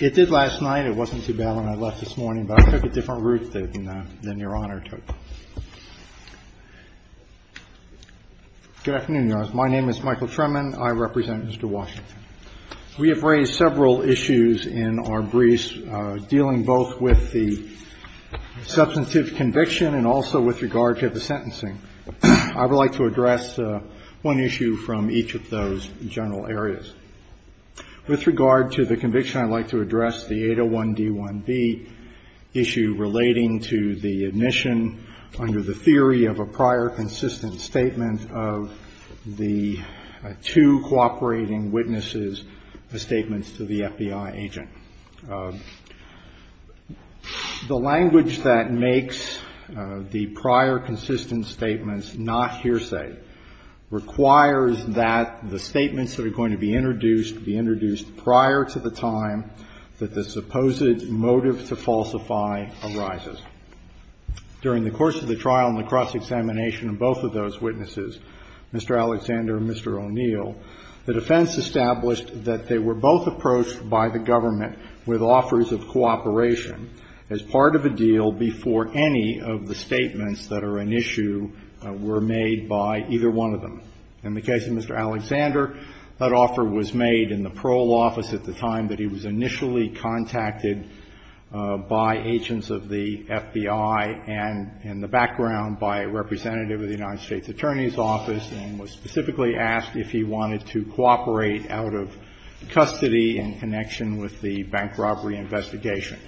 It did last night. It wasn't too bad when I left this morning, but I took a different route than your Honor took. Good afternoon, Your Honor. My name is Michael Tremann. I represent Mr. Washington. We have raised several issues in our briefs dealing both with the substantive conviction and also with regard to the sentencing. I would like to address one issue from each of those general areas. With regard to the conviction, I'd like to address the 801d1b issue relating to the admission under the theory of a prior consistent statement of the two cooperating witnesses' statements to the FBI agent. The language that makes the prior consistent statements not hearsay requires that the statements that are going to be introduced be introduced prior to the time that the supposed motive to falsify arises. During the course of the trial and the cross-examination of both of those witnesses, Mr. Alexander and Mr. O'Neill, the defense established that they were both approached by the government with offers of cooperation as part of a deal before any of the statements that are an issue were made by either one of them. In the case of Mr. Alexander, that offer was made in the parole office at the time that he was initially contacted by agents of the FBI and in the background by a representative of the United States Attorney's Office and was specifically asked if he wanted to cooperate out of custody in connection with the bank robbery investigation.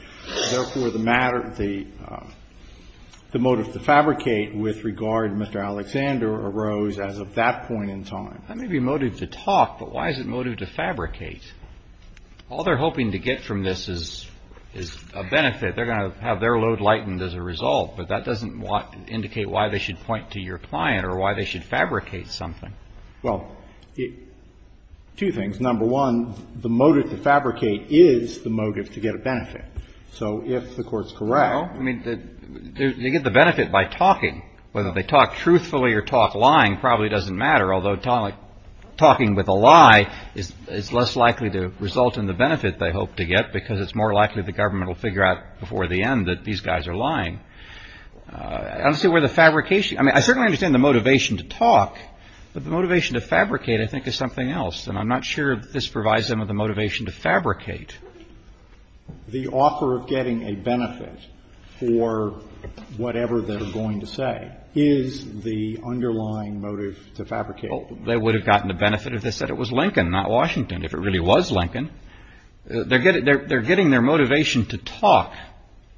Therefore, the motive to fabricate with regard to Mr. Alexander arose as of that point in time. That may be motive to talk, but why is it motive to fabricate? All they're hoping to get from this is a benefit. They're going to have their load lightened as a result, but that doesn't indicate why they should point to your client or why they should fabricate something. Well, two things. Number one, the motive to fabricate is the motive to get a benefit. So if the Court's correct… Well, I mean, they get the benefit by talking. Whether they talk truthfully or talk lying probably doesn't matter, although talking with a lie is less likely to result in the benefit they hope to get because it's more likely the government will figure out before the end that these guys are lying. I don't see where the fabrication… I mean, I certainly understand the motivation to talk, but the motivation to fabricate, I think, is something else, and I'm not sure that this provides them with the motivation to fabricate. The offer of getting a benefit for whatever they're going to say is the underlying motive to fabricate. They would have gotten the benefit if they said it was Lincoln, not Washington, if it really was Lincoln. They're getting their motivation to talk.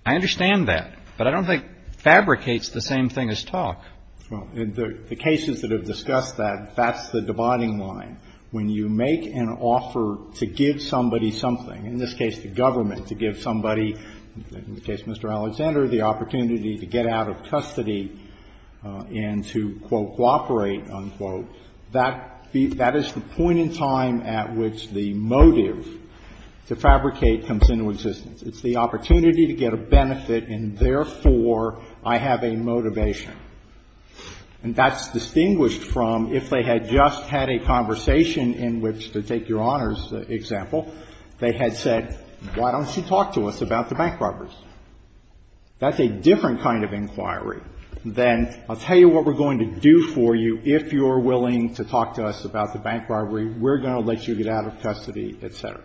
I understand that, but I don't think fabricates the same thing as talk. Well, in the cases that have discussed that, that's the dividing line. When you make an offer to give somebody something, in this case the government, to give somebody, in the case of Mr. Alexander, the opportunity to get out of custody and to, quote, cooperate, unquote, that is the point in time at which the motive to fabricate comes into existence. It's the opportunity to get a benefit, and therefore, I have a motivation. And that's distinguished from if they had just had a conversation in which, to take Your Honor's example, they had said, why don't you talk to us about the bank robberies? That's a different kind of inquiry than I'll tell you what we're going to do for you if you're willing to talk to us about the bank robbery, we're going to let you get out of custody, et cetera.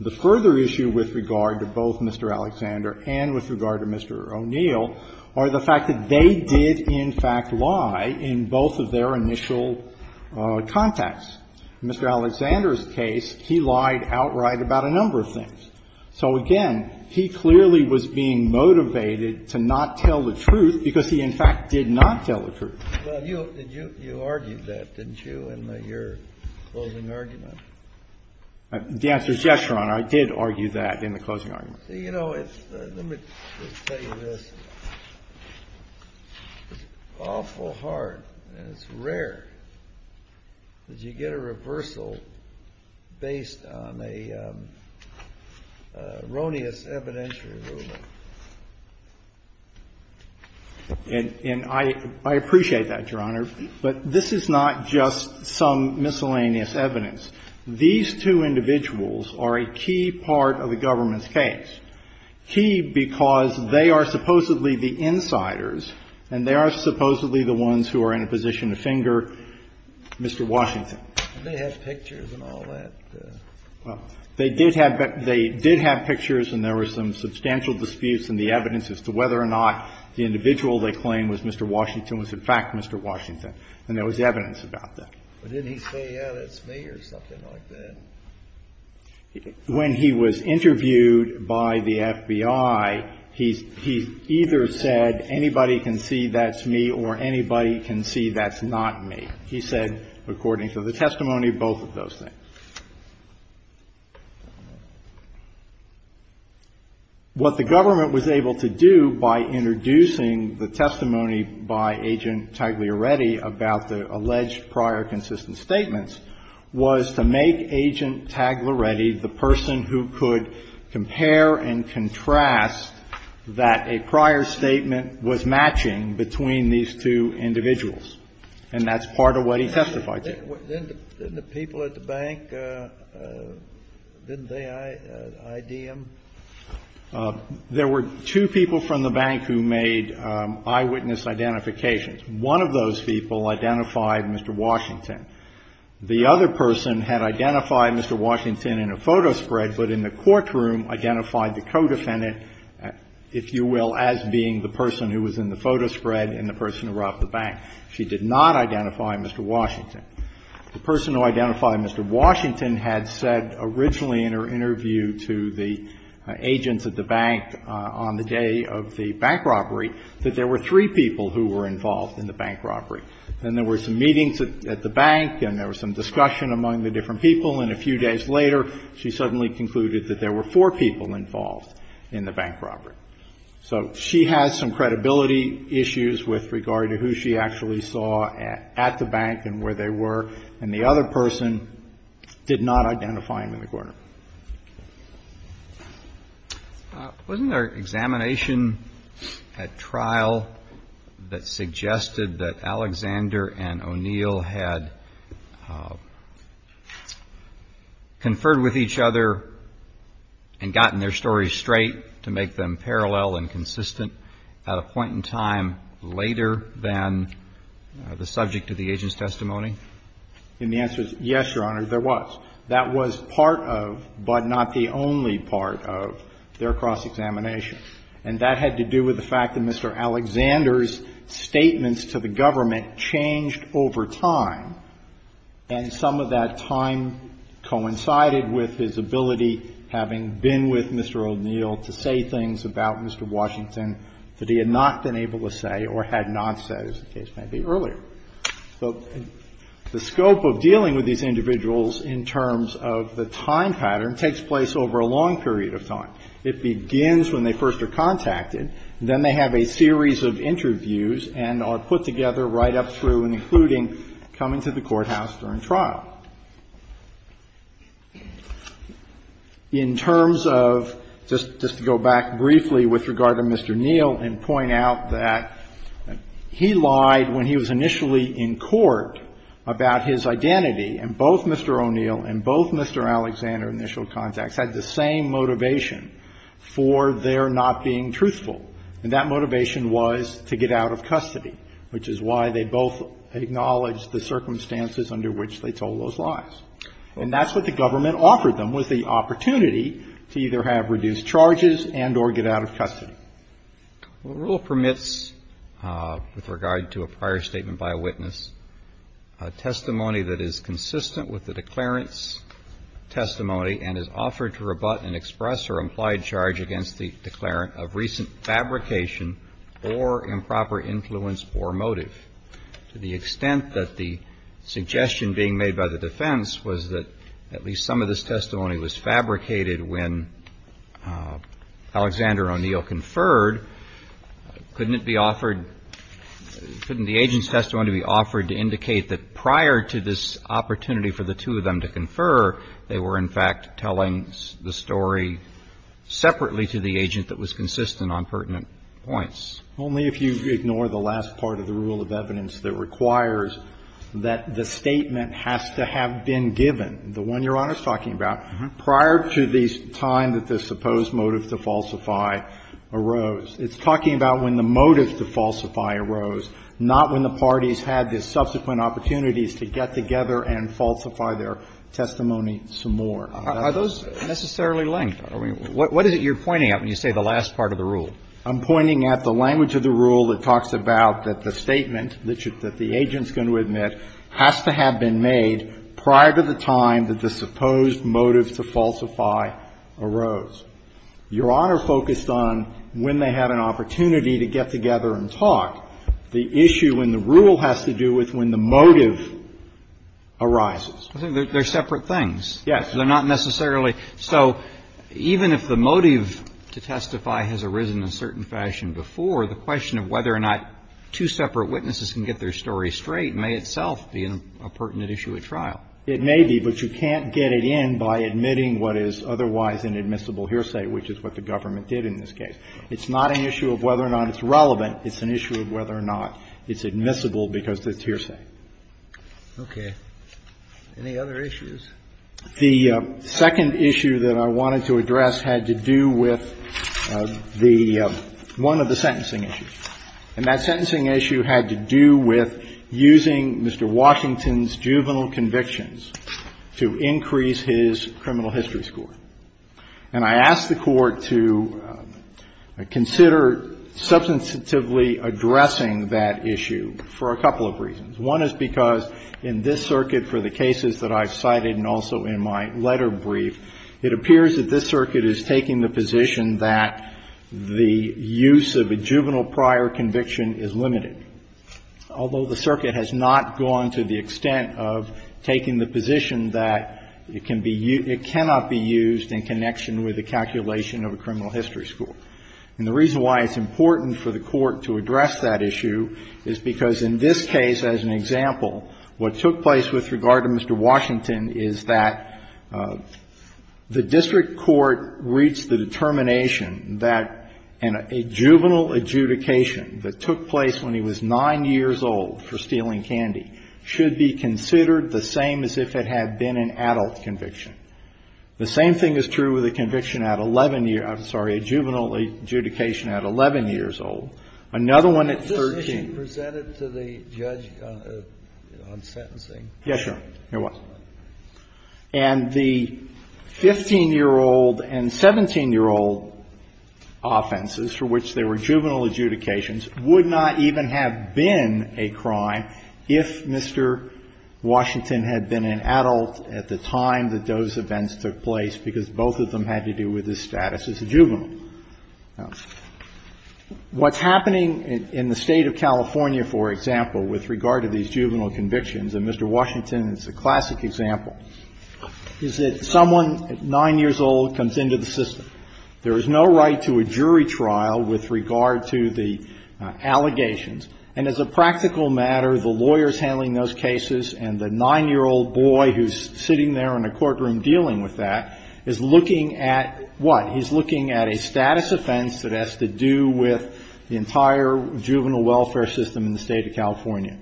The further issue with regard to both Mr. Alexander and with regard to Mr. O'Neill are the fact that they did, in fact, lie in both of their initial contacts. In Mr. Alexander's case, he lied outright about a number of things. So, again, he clearly was being motivated to not tell the truth because he, in fact, did not tell the truth. Kennedy. Well, you argued that, didn't you, in your closing argument? The answer is yes, Your Honor, I did argue that in the closing argument. See, you know, let me tell you this, it's awful hard and it's rare that you get a reversal based on an erroneous evidentiary ruling. And I appreciate that, Your Honor, but this is not just some miscellaneous evidence. These two individuals are a key part of the government's case, key because they are supposedly the insiders and they are supposedly the ones who are in a position to finger Mr. Washington. They have pictures and all that. Well, they did have pictures and there were some substantial disputes in the evidence as to whether or not the individual they claimed was Mr. Washington was, in fact, Mr. Washington. And there was evidence about that. But didn't he say, yeah, that's me or something like that? When he was interviewed by the FBI, he either said, anybody can see that's me or anybody can see that's not me. He said, according to the testimony, both of those things. What the government was able to do by introducing the testimony by Agent Tagliaretti about the alleged prior consistent statements was to make Agent Tagliaretti the person who could compare and contrast that a prior statement was matching between these two individuals. And that's part of what he testified to. Didn't the people at the bank, didn't they ID him? There were two people from the bank who made eyewitness identifications. One of those people identified Mr. Washington. The other person had identified Mr. Washington in a photo spread, but in the courtroom identified the co-defendant, if you will, as being the person who was in the photo spread and the person who robbed the bank. She did not identify Mr. Washington. The person who identified Mr. Washington had said originally in her interview to the agents at the bank on the day of the bank robbery that there were three people who were involved in the bank robbery. Then there were some meetings at the bank and there was some discussion among the different people, and a few days later she suddenly concluded that there were four people involved in the bank robbery. So she has some credibility issues with regard to who she actually saw at the bank and where they were, and the other person did not identify him in the courtroom. Wasn't there examination at trial that suggested that Alexander and O'Neill had conferred with each other and gotten their stories straight to make them parallel and consistent at a point in time later than the subject of the agent's testimony? And the answer is yes, Your Honor, there was. That was part of, but not the only part of, their cross-examination. And that had to do with the fact that Mr. Alexander's statements to the government changed over time, and some of that time coincided with his ability, having been with Mr. O'Neill, to say things about Mr. Washington that he had not been able to say or had not said, as the case may be, earlier. So the scope of dealing with these individuals in terms of the time pattern takes place over a long period of time. It begins when they first are contacted, then they have a series of interviews and are put together right up through and including coming to the courthouse during trial. In terms of, just to go back briefly with regard to Mr. O'Neill and point out that he lied when he was initially in court about his identity. And both Mr. O'Neill and both Mr. Alexander, initial contacts, had the same motivation for their not being truthful. And that motivation was to get out of custody, which is why they both acknowledged the circumstances under which they told those lies. And that's what the government offered them, was the opportunity to either have reduced charges and or get out of custody. The rule permits, with regard to a prior statement by a witness, a testimony that is consistent with the declarant's testimony and is offered to rebut and express or implied charge against the declarant of recent fabrication or improper influence or motive. To the extent that the suggestion being made by the defense was that at least some of this testimony was fabricated when Alexander O'Neill conferred, couldn't it be offered, couldn't the agent's testimony be offered to indicate that prior to this opportunity for the two of them to confer, they were, in fact, telling the story separately to the agent that was consistent on pertinent points? Only if you ignore the last part of the rule of evidence that requires that the statement has to have been given, the one Your Honor is talking about, prior to the time that the supposed motive to falsify arose. It's talking about when the motive to falsify arose, not when the parties had the subsequent opportunities to get together and falsify their testimony some more. Are those necessarily linked? I mean, what is it you're pointing at when you say the last part of the rule? I'm pointing at the language of the rule that talks about that the statement that the agent's going to admit has to have been made prior to the time that the supposed motive to falsify arose. Your Honor focused on when they had an opportunity to get together and talk. The issue in the rule has to do with when the motive arises. I think they're separate things. Yes. They're not necessarily so. Even if the motive to testify has arisen in a certain fashion before, the question of whether or not two separate witnesses can get their story straight may itself be a pertinent issue at trial. It may be, but you can't get it in by admitting what is otherwise an admissible hearsay, which is what the government did in this case. It's not an issue of whether or not it's relevant. It's an issue of whether or not it's admissible because it's hearsay. Okay. Any other issues? The second issue that I wanted to address had to do with the one of the sentencing issues, and that sentencing issue had to do with using Mr. Washington's juvenile convictions to increase his criminal history score. And I asked the Court to consider substantively addressing that issue for a couple of reasons. One is because in this circuit for the cases that I've cited and also in my letter in brief, it appears that this circuit is taking the position that the use of a juvenile prior conviction is limited, although the circuit has not gone to the extent of taking the position that it can be used – it cannot be used in connection with the calculation of a criminal history score. And the reason why it's important for the Court to address that issue is because in this case, as an example, what took place with regard to Mr. Washington is that the district court reached the determination that a juvenile adjudication that took place when he was 9 years old for stealing candy should be considered the same as if it had been an adult conviction. The same thing is true with a conviction at 11 years – I'm sorry, a juvenile adjudication at 11 years old. Another one at 13. Kennedy. Kennedy. And the 15-year-old and 17-year-old offenses for which there were juvenile adjudications would not even have been a crime if Mr. Washington had been an adult at the time that those events took place, because both of them had to do with his status as a juvenile. What's happening in the State of California, for example, with regard to these juvenile convictions, and Mr. Washington is a classic example, is that someone at 9 years old comes into the system. There is no right to a jury trial with regard to the allegations. And as a practical matter, the lawyers handling those cases and the 9-year-old boy who's sitting there in a courtroom dealing with that is looking at what? He's looking at a status offense that has to do with the entire juvenile welfare system in the State of California.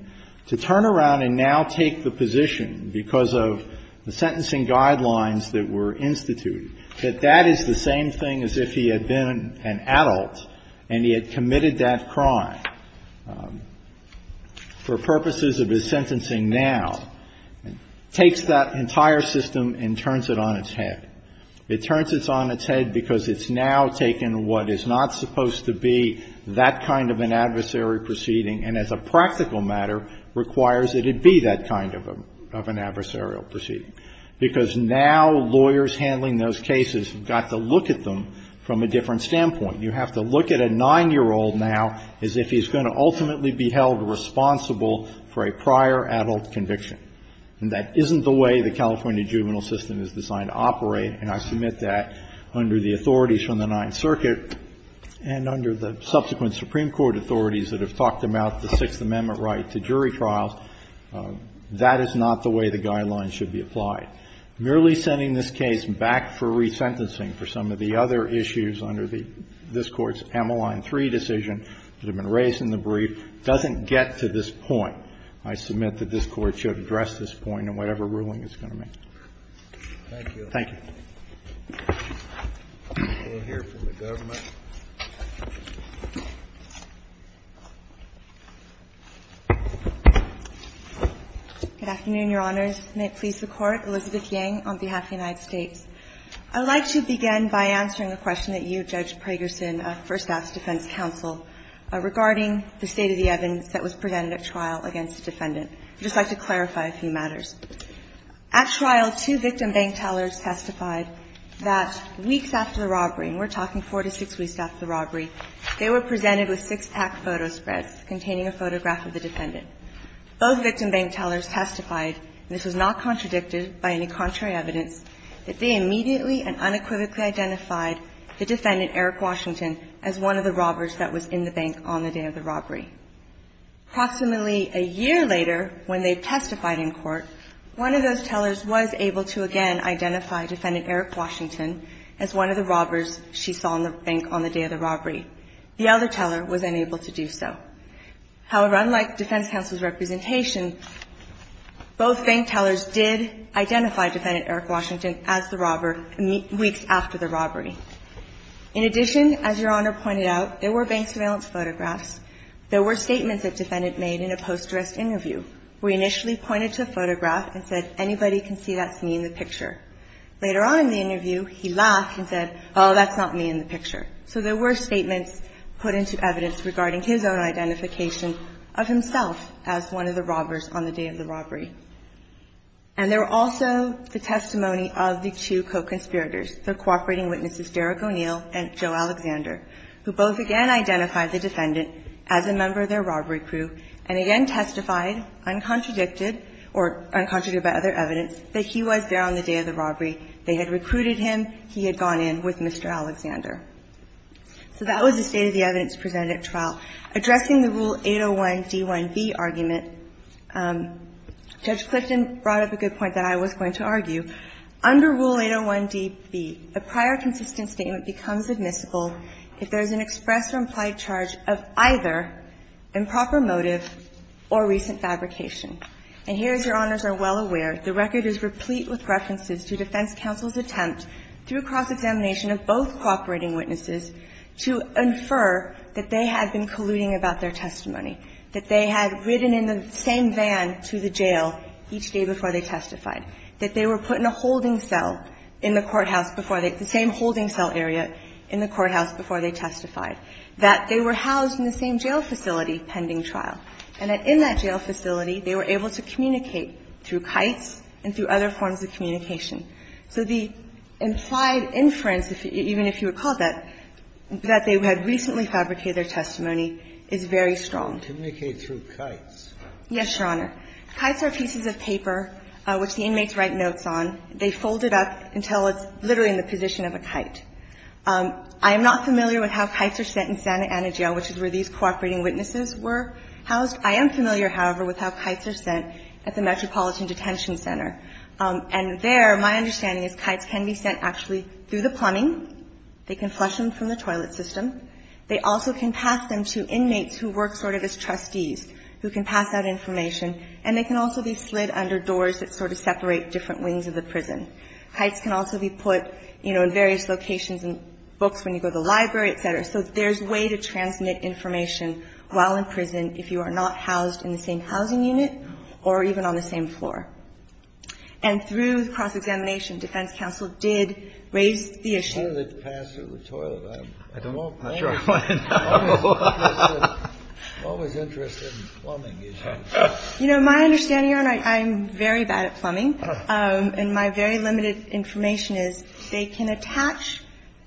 To turn around and now take the position, because of the sentencing guidelines that were instituted, that that is the same thing as if he had been an adult and he had committed that crime for purposes of his sentencing now, takes that entire system and turns it on its head. It turns it on its head because it's now taken what is not supposed to be that kind of an adversary proceeding, and as a practical matter, requires that it be that kind of an adversarial proceeding. Because now lawyers handling those cases have got to look at them from a different standpoint. You have to look at a 9-year-old now as if he's going to ultimately be held responsible for a prior adult conviction. And that isn't the way the California juvenile system is designed to operate, and I submit that under the authorities from the Ninth Circuit and under the subsequent Supreme Court authorities that have talked about the Sixth Amendment right to jury trials, that is not the way the guidelines should be applied. Merely sending this case back for resentencing for some of the other issues under this Court's Ameline 3 decision that have been raised in the brief doesn't get to this point. I submit that this Court should address this point in whatever ruling it's going to make. Thank you. We'll hear from the government. Good afternoon, Your Honors. May it please the Court. Elizabeth Yang on behalf of the United States. I would like to begin by answering a question that you, Judge Pragerson, first asked counsel regarding the state-of-the-evidence that was presented at trial against the defendant. I'd just like to clarify a few matters. At trial, two victim bank tellers testified that weeks after the robbery, and we're talking four to six weeks after the robbery, they were presented with six-pack photo spreads containing a photograph of the defendant. Both victim bank tellers testified, and this was not contradicted by any contrary evidence, that they immediately and unequivocally identified the defendant, Eric Washington, as one of the robbers that was in the bank on the day of the robbery. Approximately a year later, when they testified in court, one of those tellers was able to, again, identify defendant Eric Washington as one of the robbers she saw in the bank on the day of the robbery. The other teller was unable to do so. However, unlike defense counsel's representation, both bank tellers did identify defendant Eric Washington as the robber weeks after the robbery. In addition, as Your Honor pointed out, there were bank surveillance photographs. There were statements that defendant made in a post-arrest interview where he initially pointed to a photograph and said, anybody can see that's me in the picture. Later on in the interview, he laughed and said, oh, that's not me in the picture. So there were statements put into evidence regarding his own identification of himself as one of the robbers on the day of the robbery. And there were also the testimony of the two co-conspirators, the cooperating eyewitnesses, Derek O'Neill and Joe Alexander, who both again identified the defendant as a member of their robbery crew and again testified, uncontradicted or uncontradicted by other evidence, that he was there on the day of the robbery. They had recruited him. He had gone in with Mr. Alexander. So that was the state of the evidence presented at trial. Addressing the Rule 801d1b argument, Judge Clifton brought up a good point that I was going to argue. Under Rule 801db, a prior consistent statement becomes admissible if there is an express or implied charge of either improper motive or recent fabrication. And here, as Your Honors are well aware, the record is replete with references to defense counsel's attempt, through cross-examination of both cooperating witnesses, to infer that they had been colluding about their testimony, that they had ridden in the same van to the jail each day before they testified, that they were put in a holding cell in the courthouse before they – the same holding cell area in the courthouse before they testified, that they were housed in the same jail facility pending trial, and that in that jail facility they were able to communicate through kites and through other forms of communication. So the implied inference, even if you recall that, that they had recently fabricated their testimony is very strong. Kennedy, through kites? Yes, Your Honor. Kites are pieces of paper which the inmates write notes on. They fold it up until it's literally in the position of a kite. I am not familiar with how kites are sent in Santa Ana Jail, which is where these cooperating witnesses were housed. I am familiar, however, with how kites are sent at the Metropolitan Detention Center. And there, my understanding is kites can be sent actually through the plumbing. They can flush them from the toilet system. They also can pass them to inmates who work sort of as trustees, who can pass out information. And they can also be slid under doors that sort of separate different wings of the prison. Kites can also be put, you know, in various locations in books when you go to the library, et cetera. So there's a way to transmit information while in prison if you are not housed in the same housing unit or even on the same floor. And through cross-examination, defense counsel did raise the issue. Kennedy, I'm not sure I want to know. I'm always interested in plumbing issues. You know, my understanding, Your Honor, I'm very bad at plumbing. And my very limited information is they can attach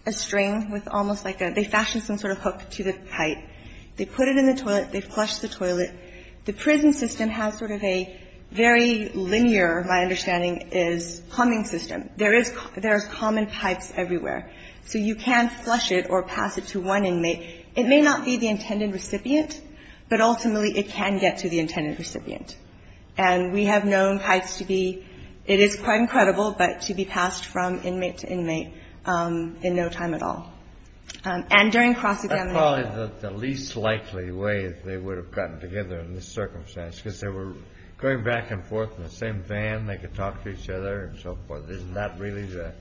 a string with almost like a they fashion some sort of hook to the kite. They put it in the toilet. They flush the toilet. The prison system has sort of a very linear, my understanding, plumbing system. There is common pipes everywhere. So you can't flush it or pass it to one inmate. It may not be the intended recipient, but ultimately it can get to the intended recipient. And we have known kites to be, it is quite incredible, but to be passed from inmate to inmate in no time at all. And during cross-examination the least likely way they would have gotten together in this circumstance, because they were going back and forth in the same van. They could talk to each other and so forth. Isn't that really the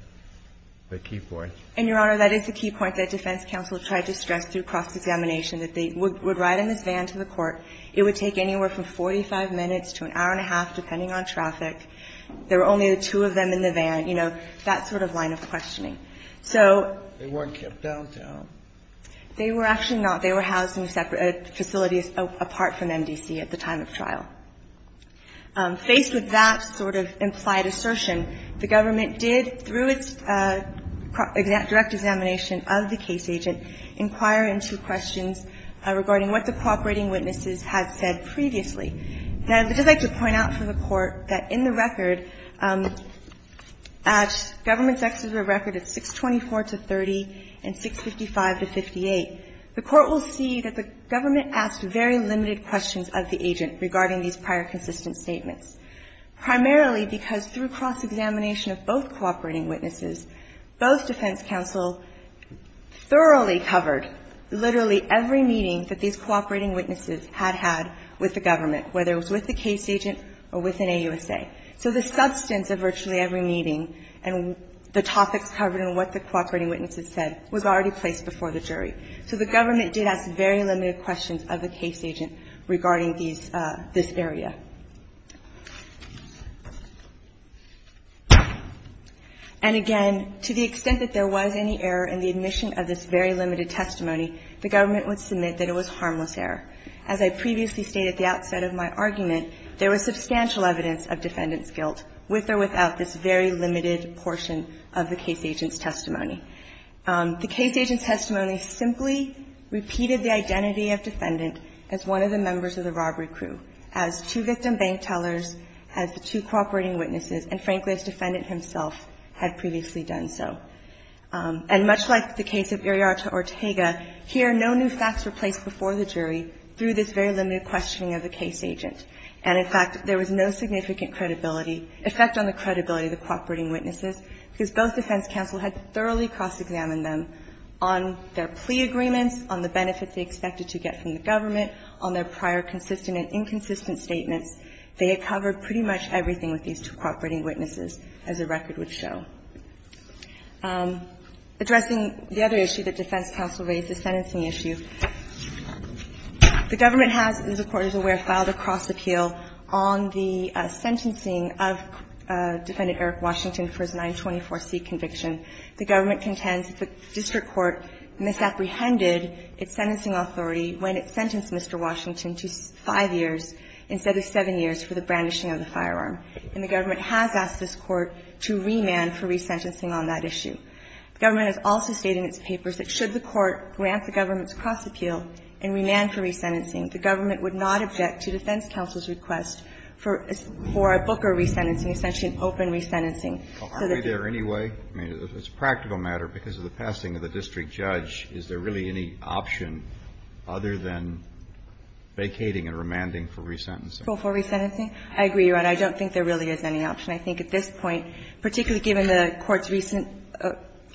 key point? And, Your Honor, that is the key point that defense counsel tried to stress through cross-examination, that they would ride in this van to the court. It would take anywhere from 45 minutes to an hour and a half, depending on traffic. There were only the two of them in the van. You know, that sort of line of questioning. So they were actually not. They were housed in separate facilities apart from MDC at the time of trial. Faced with that sort of implied assertion, the government did, through its direct examination of the case agent, inquire into questions regarding what the cooperating witnesses had said previously. Now, I would just like to point out for the Court that in the record, at government's exeter of record at 624 to 30 and 655 to 58, the Court will see that the government asked very limited questions of the agent regarding these prior consistent statements. Primarily because through cross-examination of both cooperating witnesses, both defense counsel thoroughly covered literally every meeting that these cooperating witnesses had had with the government, whether it was with the case agent or with an AUSA. So the substance of virtually every meeting and the topics covered and what the cooperating witnesses said was already placed before the jury. So the government did ask very limited questions of the case agent regarding these – this area. And again, to the extent that there was any error in the admission of this very limited testimony, the government would submit that it was harmless error. As I previously stated at the outset of my argument, there was substantial evidence of defendant's guilt, with or without this very limited portion of the case agent's testimony. The case agent's testimony simply repeated the identity of defendant as one of the members of the robbery crew, as two victim bank tellers, as the two cooperating witnesses, and frankly, as defendant himself had previously done so. And much like the case of Iriarta-Ortega, here no new facts were placed before the jury through this very limited questioning of the case agent. And in fact, there was no significant credibility – effect on the credibility of the cooperating witnesses, because both defense counsel had thoroughly cross-examined them on their plea agreements, on the benefits they expected to get from the government, on their prior consistent and inconsistent statements. They had covered pretty much everything with these two cooperating witnesses, as the record would show. Addressing the other issue that defense counsel raised, the sentencing issue, the government has, as the Court is aware, filed a cross-appeal on the sentencing of defendant Eric Washington for his 924C conviction. The government contends that the district court misapprehended its sentencing authority when it sentenced Mr. Washington to five years instead of seven years for the brandishing of the firearm. And the government has asked this Court to remand for resentencing on that issue. The government has also stated in its papers that should the Court grant the government's cross-appeal and remand for resentencing, the government would not object to defense counsel's request for a Booker resentencing, essentially an open resentencing. So that's a practical matter, because of the passing of the district judge, is there really any option other than vacating and remanding for resentencing? For resentencing? I agree, Your Honor. I don't think there really is any option. I think at this point, particularly given the Court's recent –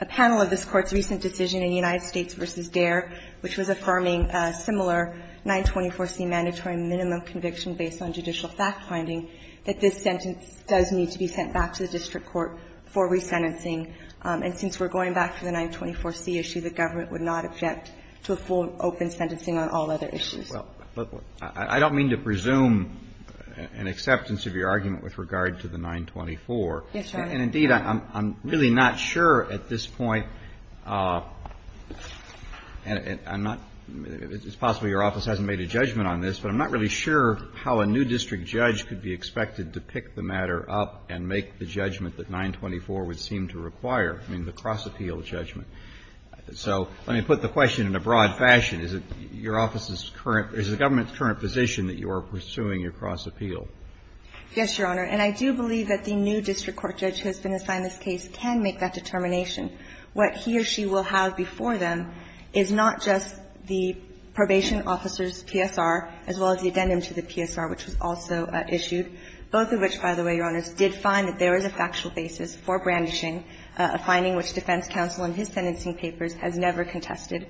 a panel of this Court's recent decision in United States v. Dare, which was affirming a similar 924C mandatory minimum conviction based on judicial fact-finding, that this sentence does need to be sent back to the district court for resentencing. And since we're going back to the 924C issue, the government would not object to a full open sentencing on all other issues. Well, but I don't mean to presume an acceptance of your argument with regard to the 924. Yes, Your Honor. And indeed, I'm really not sure at this point – and I'm not – it's possible your office hasn't made a judgment on this, but I'm not really sure how a new district judge could be expected to pick the matter up and make the judgment that 924 would seem to require, I mean, the cross-appeal judgment. So let me put the question in a broad fashion. Is it your office's current – is the government's current position that you are pursuing your cross-appeal? Yes, Your Honor. And I do believe that the new district court judge who has been assigned this case can make that determination. What he or she will have before them is not just the probation officer's PSR, as well as the addendum to the PSR, which was also issued, both of which, by the way, Your Honors, did find that there is a factual basis for brandishing, a finding which defense counsel in his sentencing papers has never contested.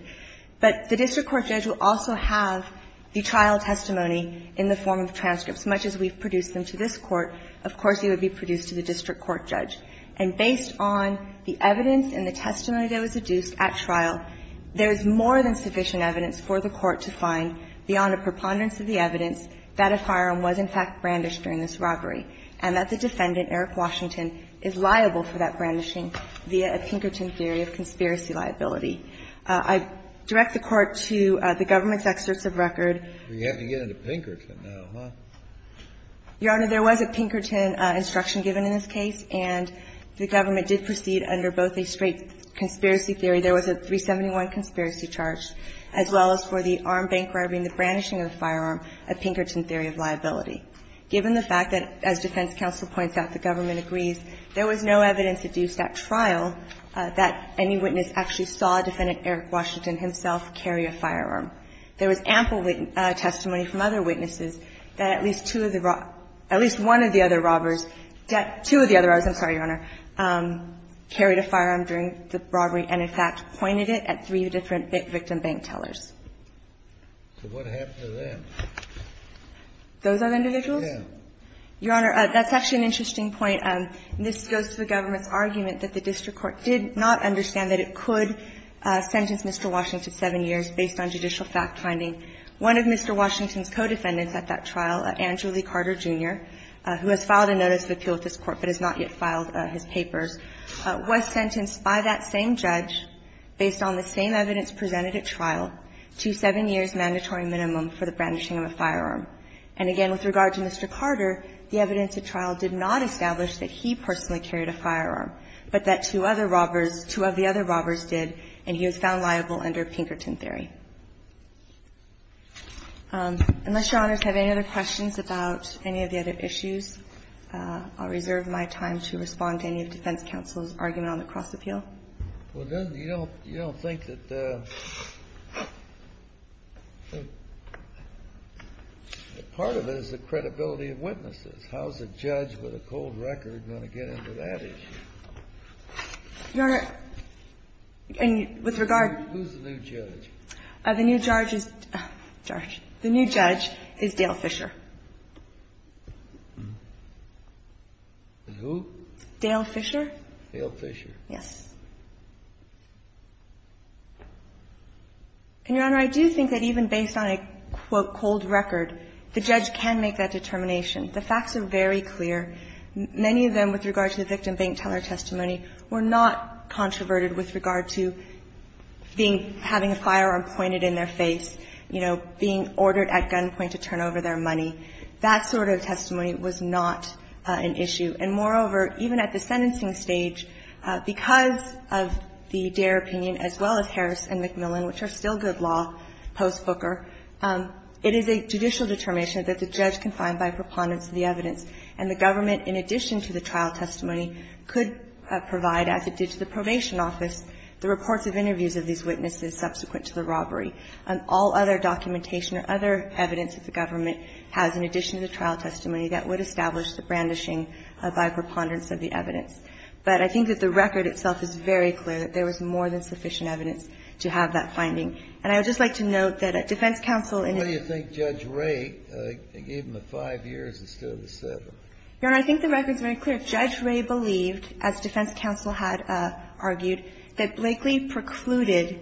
But the district court judge will also have the trial testimony in the form of transcripts. Much as we've produced them to this Court, of course, it would be produced to the district court judge. And based on the evidence and the testimony that was adduced at trial, there is more than sufficient evidence for the Court to find beyond a preponderance of the evidence that a firearm was in fact brandished during this robbery and that the defendant, Eric Washington, is liable for that brandishing via a Pinkerton theory of conspiracy liability. I direct the Court to the government's excerpts of record. We have to get into Pinkerton now, huh? Your Honor, there was a Pinkerton instruction given in this case, and the government did proceed under both a straight conspiracy theory. There was a 371 conspiracy charge, as well as for the armed bank robbing, the brandishing of the firearm, a Pinkerton theory of liability. Given the fact that, as defense counsel points out, the government agrees, there was no evidence adduced at trial that any witness actually saw defendant Eric Washington himself carry a firearm. There was ample testimony from other witnesses that at least two of the robbers at least one of the other robbers, two of the other robbers, I'm sorry, Your Honor, carried a firearm during the robbery and in fact pointed it at three different victim bank tellers. Kennedy, those are the individuals? Your Honor, that's actually an interesting point. And this goes to the government's argument that the district court did not understand that it could sentence Mr. Washington 7 years based on judicial fact-finding. One of Mr. Washington's co-defendants at that trial, Andrew Lee Carter, Jr., who has filed a notice of appeal with this Court but has not yet filed his papers, was sentenced by that same judge, based on the same evidence presented at trial, to 7 years mandatory minimum for the brandishing of a firearm. And again, with regard to Mr. Carter, the evidence at trial did not establish that he personally carried a firearm, but that two other robbers, two of the other robbers did, and he was found liable under Pinkerton theory. Unless Your Honors have any other questions about any of the other issues, I'll reserve my time to respond to any of defense counsel's argument on the cross-appeal. Kennedy, you don't think that part of it is the credibility of witnesses. How is a judge with a cold record going to get into that issue? Your Honor, and with regard to the new judge, the new judge is Dale Fisher. Dale Fisher. Dale Fisher. Yes. And, Your Honor, I do think that even based on a, quote, cold record, the judge can make that determination. The facts are very clear. Many of them, with regard to the victim bank teller testimony, were not controverted with regard to being, having a firearm pointed in their face, you know, being ordered at gunpoint to turn over their money. That sort of testimony was not an issue. And moreover, even at the sentencing stage, because of the Deere opinion, as well as Harris and McMillan, which are still good law post-Booker, it is a judicial determination that the judge can find by preponderance of the evidence. And the government, in addition to the trial testimony, could provide, as it did to the probation office, the reports of interviews of these witnesses subsequent to the robbery. All other documentation or other evidence that the government has, in addition to the trial testimony, that would establish the brandishing by preponderance of the evidence. But I think that the record itself is very clear that there was more than sufficient evidence to have that finding. Breyer, did Judge Ray give him the 5 years instead of the 7? Your Honor, I think the record is very clear. Judge Ray believed, as defense counsel had argued, that Blakely precluded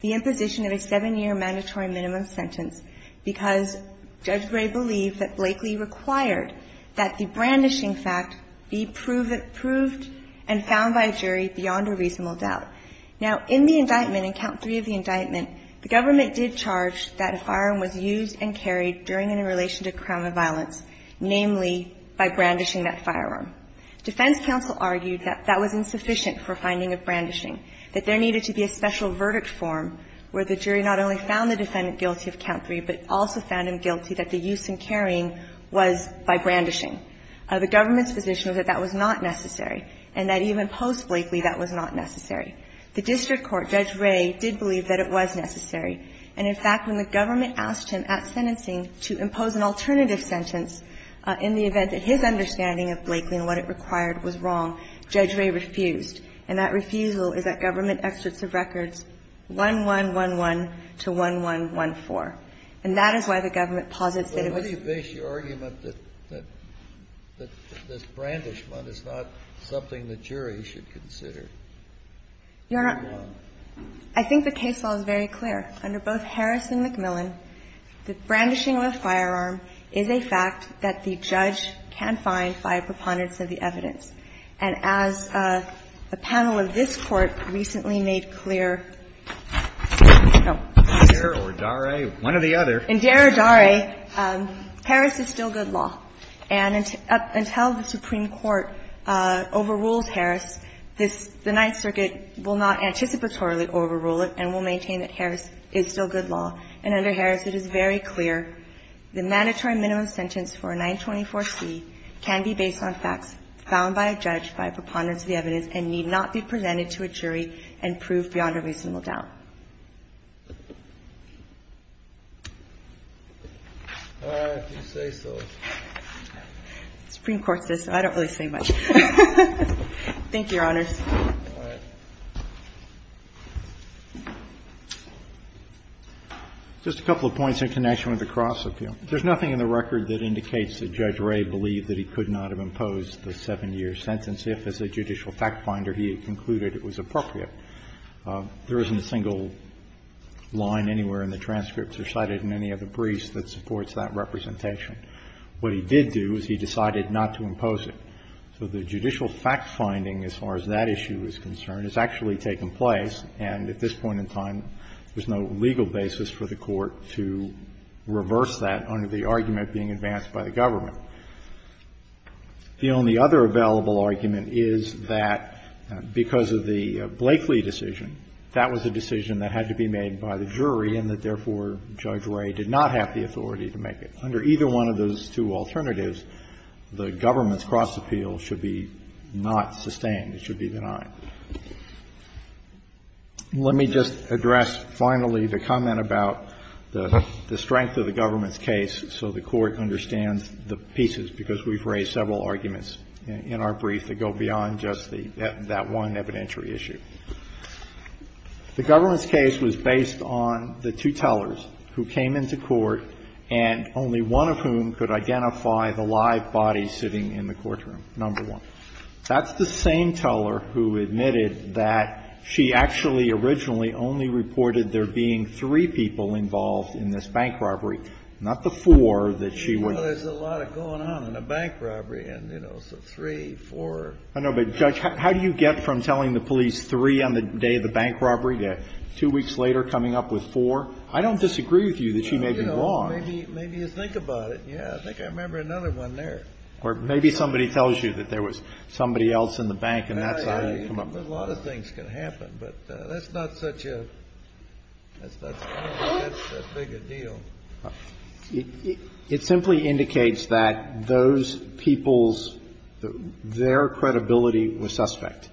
the imposition of a 7-year mandatory minimum sentence because Judge Ray believed that Blakely required that the brandishing fact be proved and found by a jury beyond a reasonable doubt. Now, in the indictment, in count 3 of the indictment, the government did charge that a firearm was used and carried during and in relation to a crime of violence, namely by brandishing that firearm. Defense counsel argued that that was insufficient for finding of brandishing, that there needed to be a special verdict form where the jury not only found the defendant guilty of count 3, but also found him guilty that the use and carrying was by brandishing. The government's position was that that was not necessary and that even post-Blakely that was not necessary. The district court, Judge Ray, did believe that it was necessary. And, in fact, when the government asked him at sentencing to impose an alternative sentence in the event that his understanding of Blakely and what it required was wrong, Judge Ray refused. And that refusal is at government excerpts of records 1111 to 1114. And that is why the government posits that it was not necessary. Kennedy, what do you base your argument that this brandishment is not something the jury should consider? Your Honor, I think the case law is very clear. Under both Harris and McMillan, the brandishing of a firearm is a fact that the judge can find by a preponderance of the evidence. And as a panel of this Court recently made clear, no. Indair or Daray, one or the other. Indair or Daray, Harris is still good law. And until the Supreme Court overrules Harris, this the Ninth Circuit will not anticipatorily overrule it and will maintain that Harris is still good law. And under Harris, it is very clear the mandatory minimum sentence for a 924C can be based on facts found by a judge by a preponderance of the evidence and need not be presented to a jury and proved beyond a reasonable doubt. The Supreme Court says so. Thank you, Your Honors. Just a couple of points in connection with the cross-appeal. There's nothing in the record that indicates that Judge Ray believed that he could not have imposed the 7-year sentence if, as a judicial fact-finder, he had concluded it was appropriate. There isn't a single line anywhere in the transcripts or cited in any of the briefs that supports that representation. What he did do is he decided not to impose it. So the judicial fact-finding, as far as that issue is concerned, has actually taken place, and at this point in time, there's no legal basis for the Court to reverse that under the argument being advanced by the government. The only other available argument is that because of the Blakeley decision, that was a decision that had to be made by the jury and that, therefore, Judge Ray did not have the authority to make it. Under either one of those two alternatives, the government's cross-appeal should be not sustained. It should be denied. Let me just address, finally, the comment about the strength of the government's case so the Court understands the pieces, because we've raised several arguments in our brief that go beyond just that one evidentiary issue. The government's case was based on the two tellers who came into court and only one of whom could identify the live body sitting in the courtroom, number one. That's the same teller who admitted that she actually originally only reported there being three people involved in this bank robbery, not the four that she would be. Kennedy, there's a lot going on in a bank robbery, and, you know, so three, four. I know, but, Judge, how do you get from telling the police three on the day of the bank robbery to two weeks later coming up with four? I don't disagree with you that she may be wrong. You know, maybe you think about it. Yeah, I think I remember another one there. Or maybe somebody tells you that there was somebody else in the bank and that's how you come up with four. Yeah, yeah, a lot of things can happen, but that's not such a big a deal. It simply indicates that those people's – their credibility was suspect.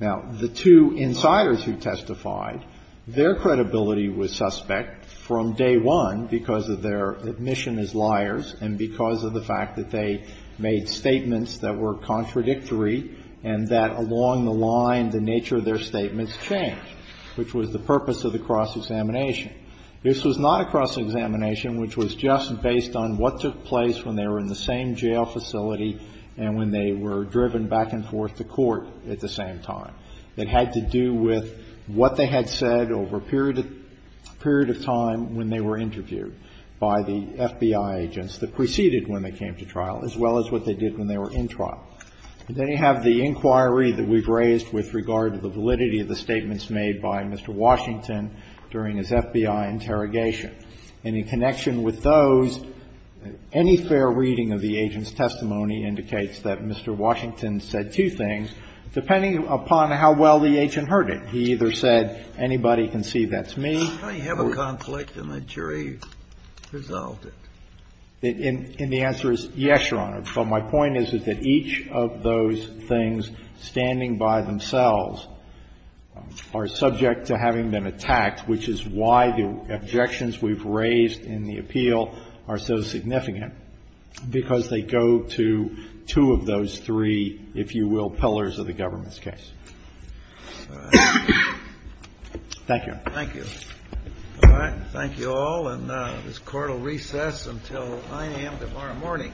Now, the two insiders who testified, their credibility was suspect from day one because of their admission as liars and because of the fact that they made statements that were contradictory and that along the line the nature of their statements changed, which was the purpose of the cross-examination. This was not a cross-examination, which was just based on what took place when they were in the same jail facility and when they were driven back and forth to court at the same time. It had to do with what they had said over a period of time when they were interviewed by the FBI agents that preceded when they came to trial, as well as what they did when they were in trial. They have the inquiry that we've raised with regard to the validity of the statements made by Mr. Washington during his FBI interrogation. And in connection with those, any fair reading of the agent's testimony indicates that Mr. Washington said two things, depending upon how well the agent heard it. He either said, anybody can see that's me. Kennedy, I have a conflict and the jury resolved it. And the answer is, yes, Your Honor. So my point is, is that each of those things standing by themselves are subject to having been attacked, which is why the objections we've raised in the appeal are so significant, because they go to two of those three, if you will, pillars of the government's case. Thank you. Kennedy. All right. Thank you all. And this Court will recess until 9 a.m. tomorrow morning.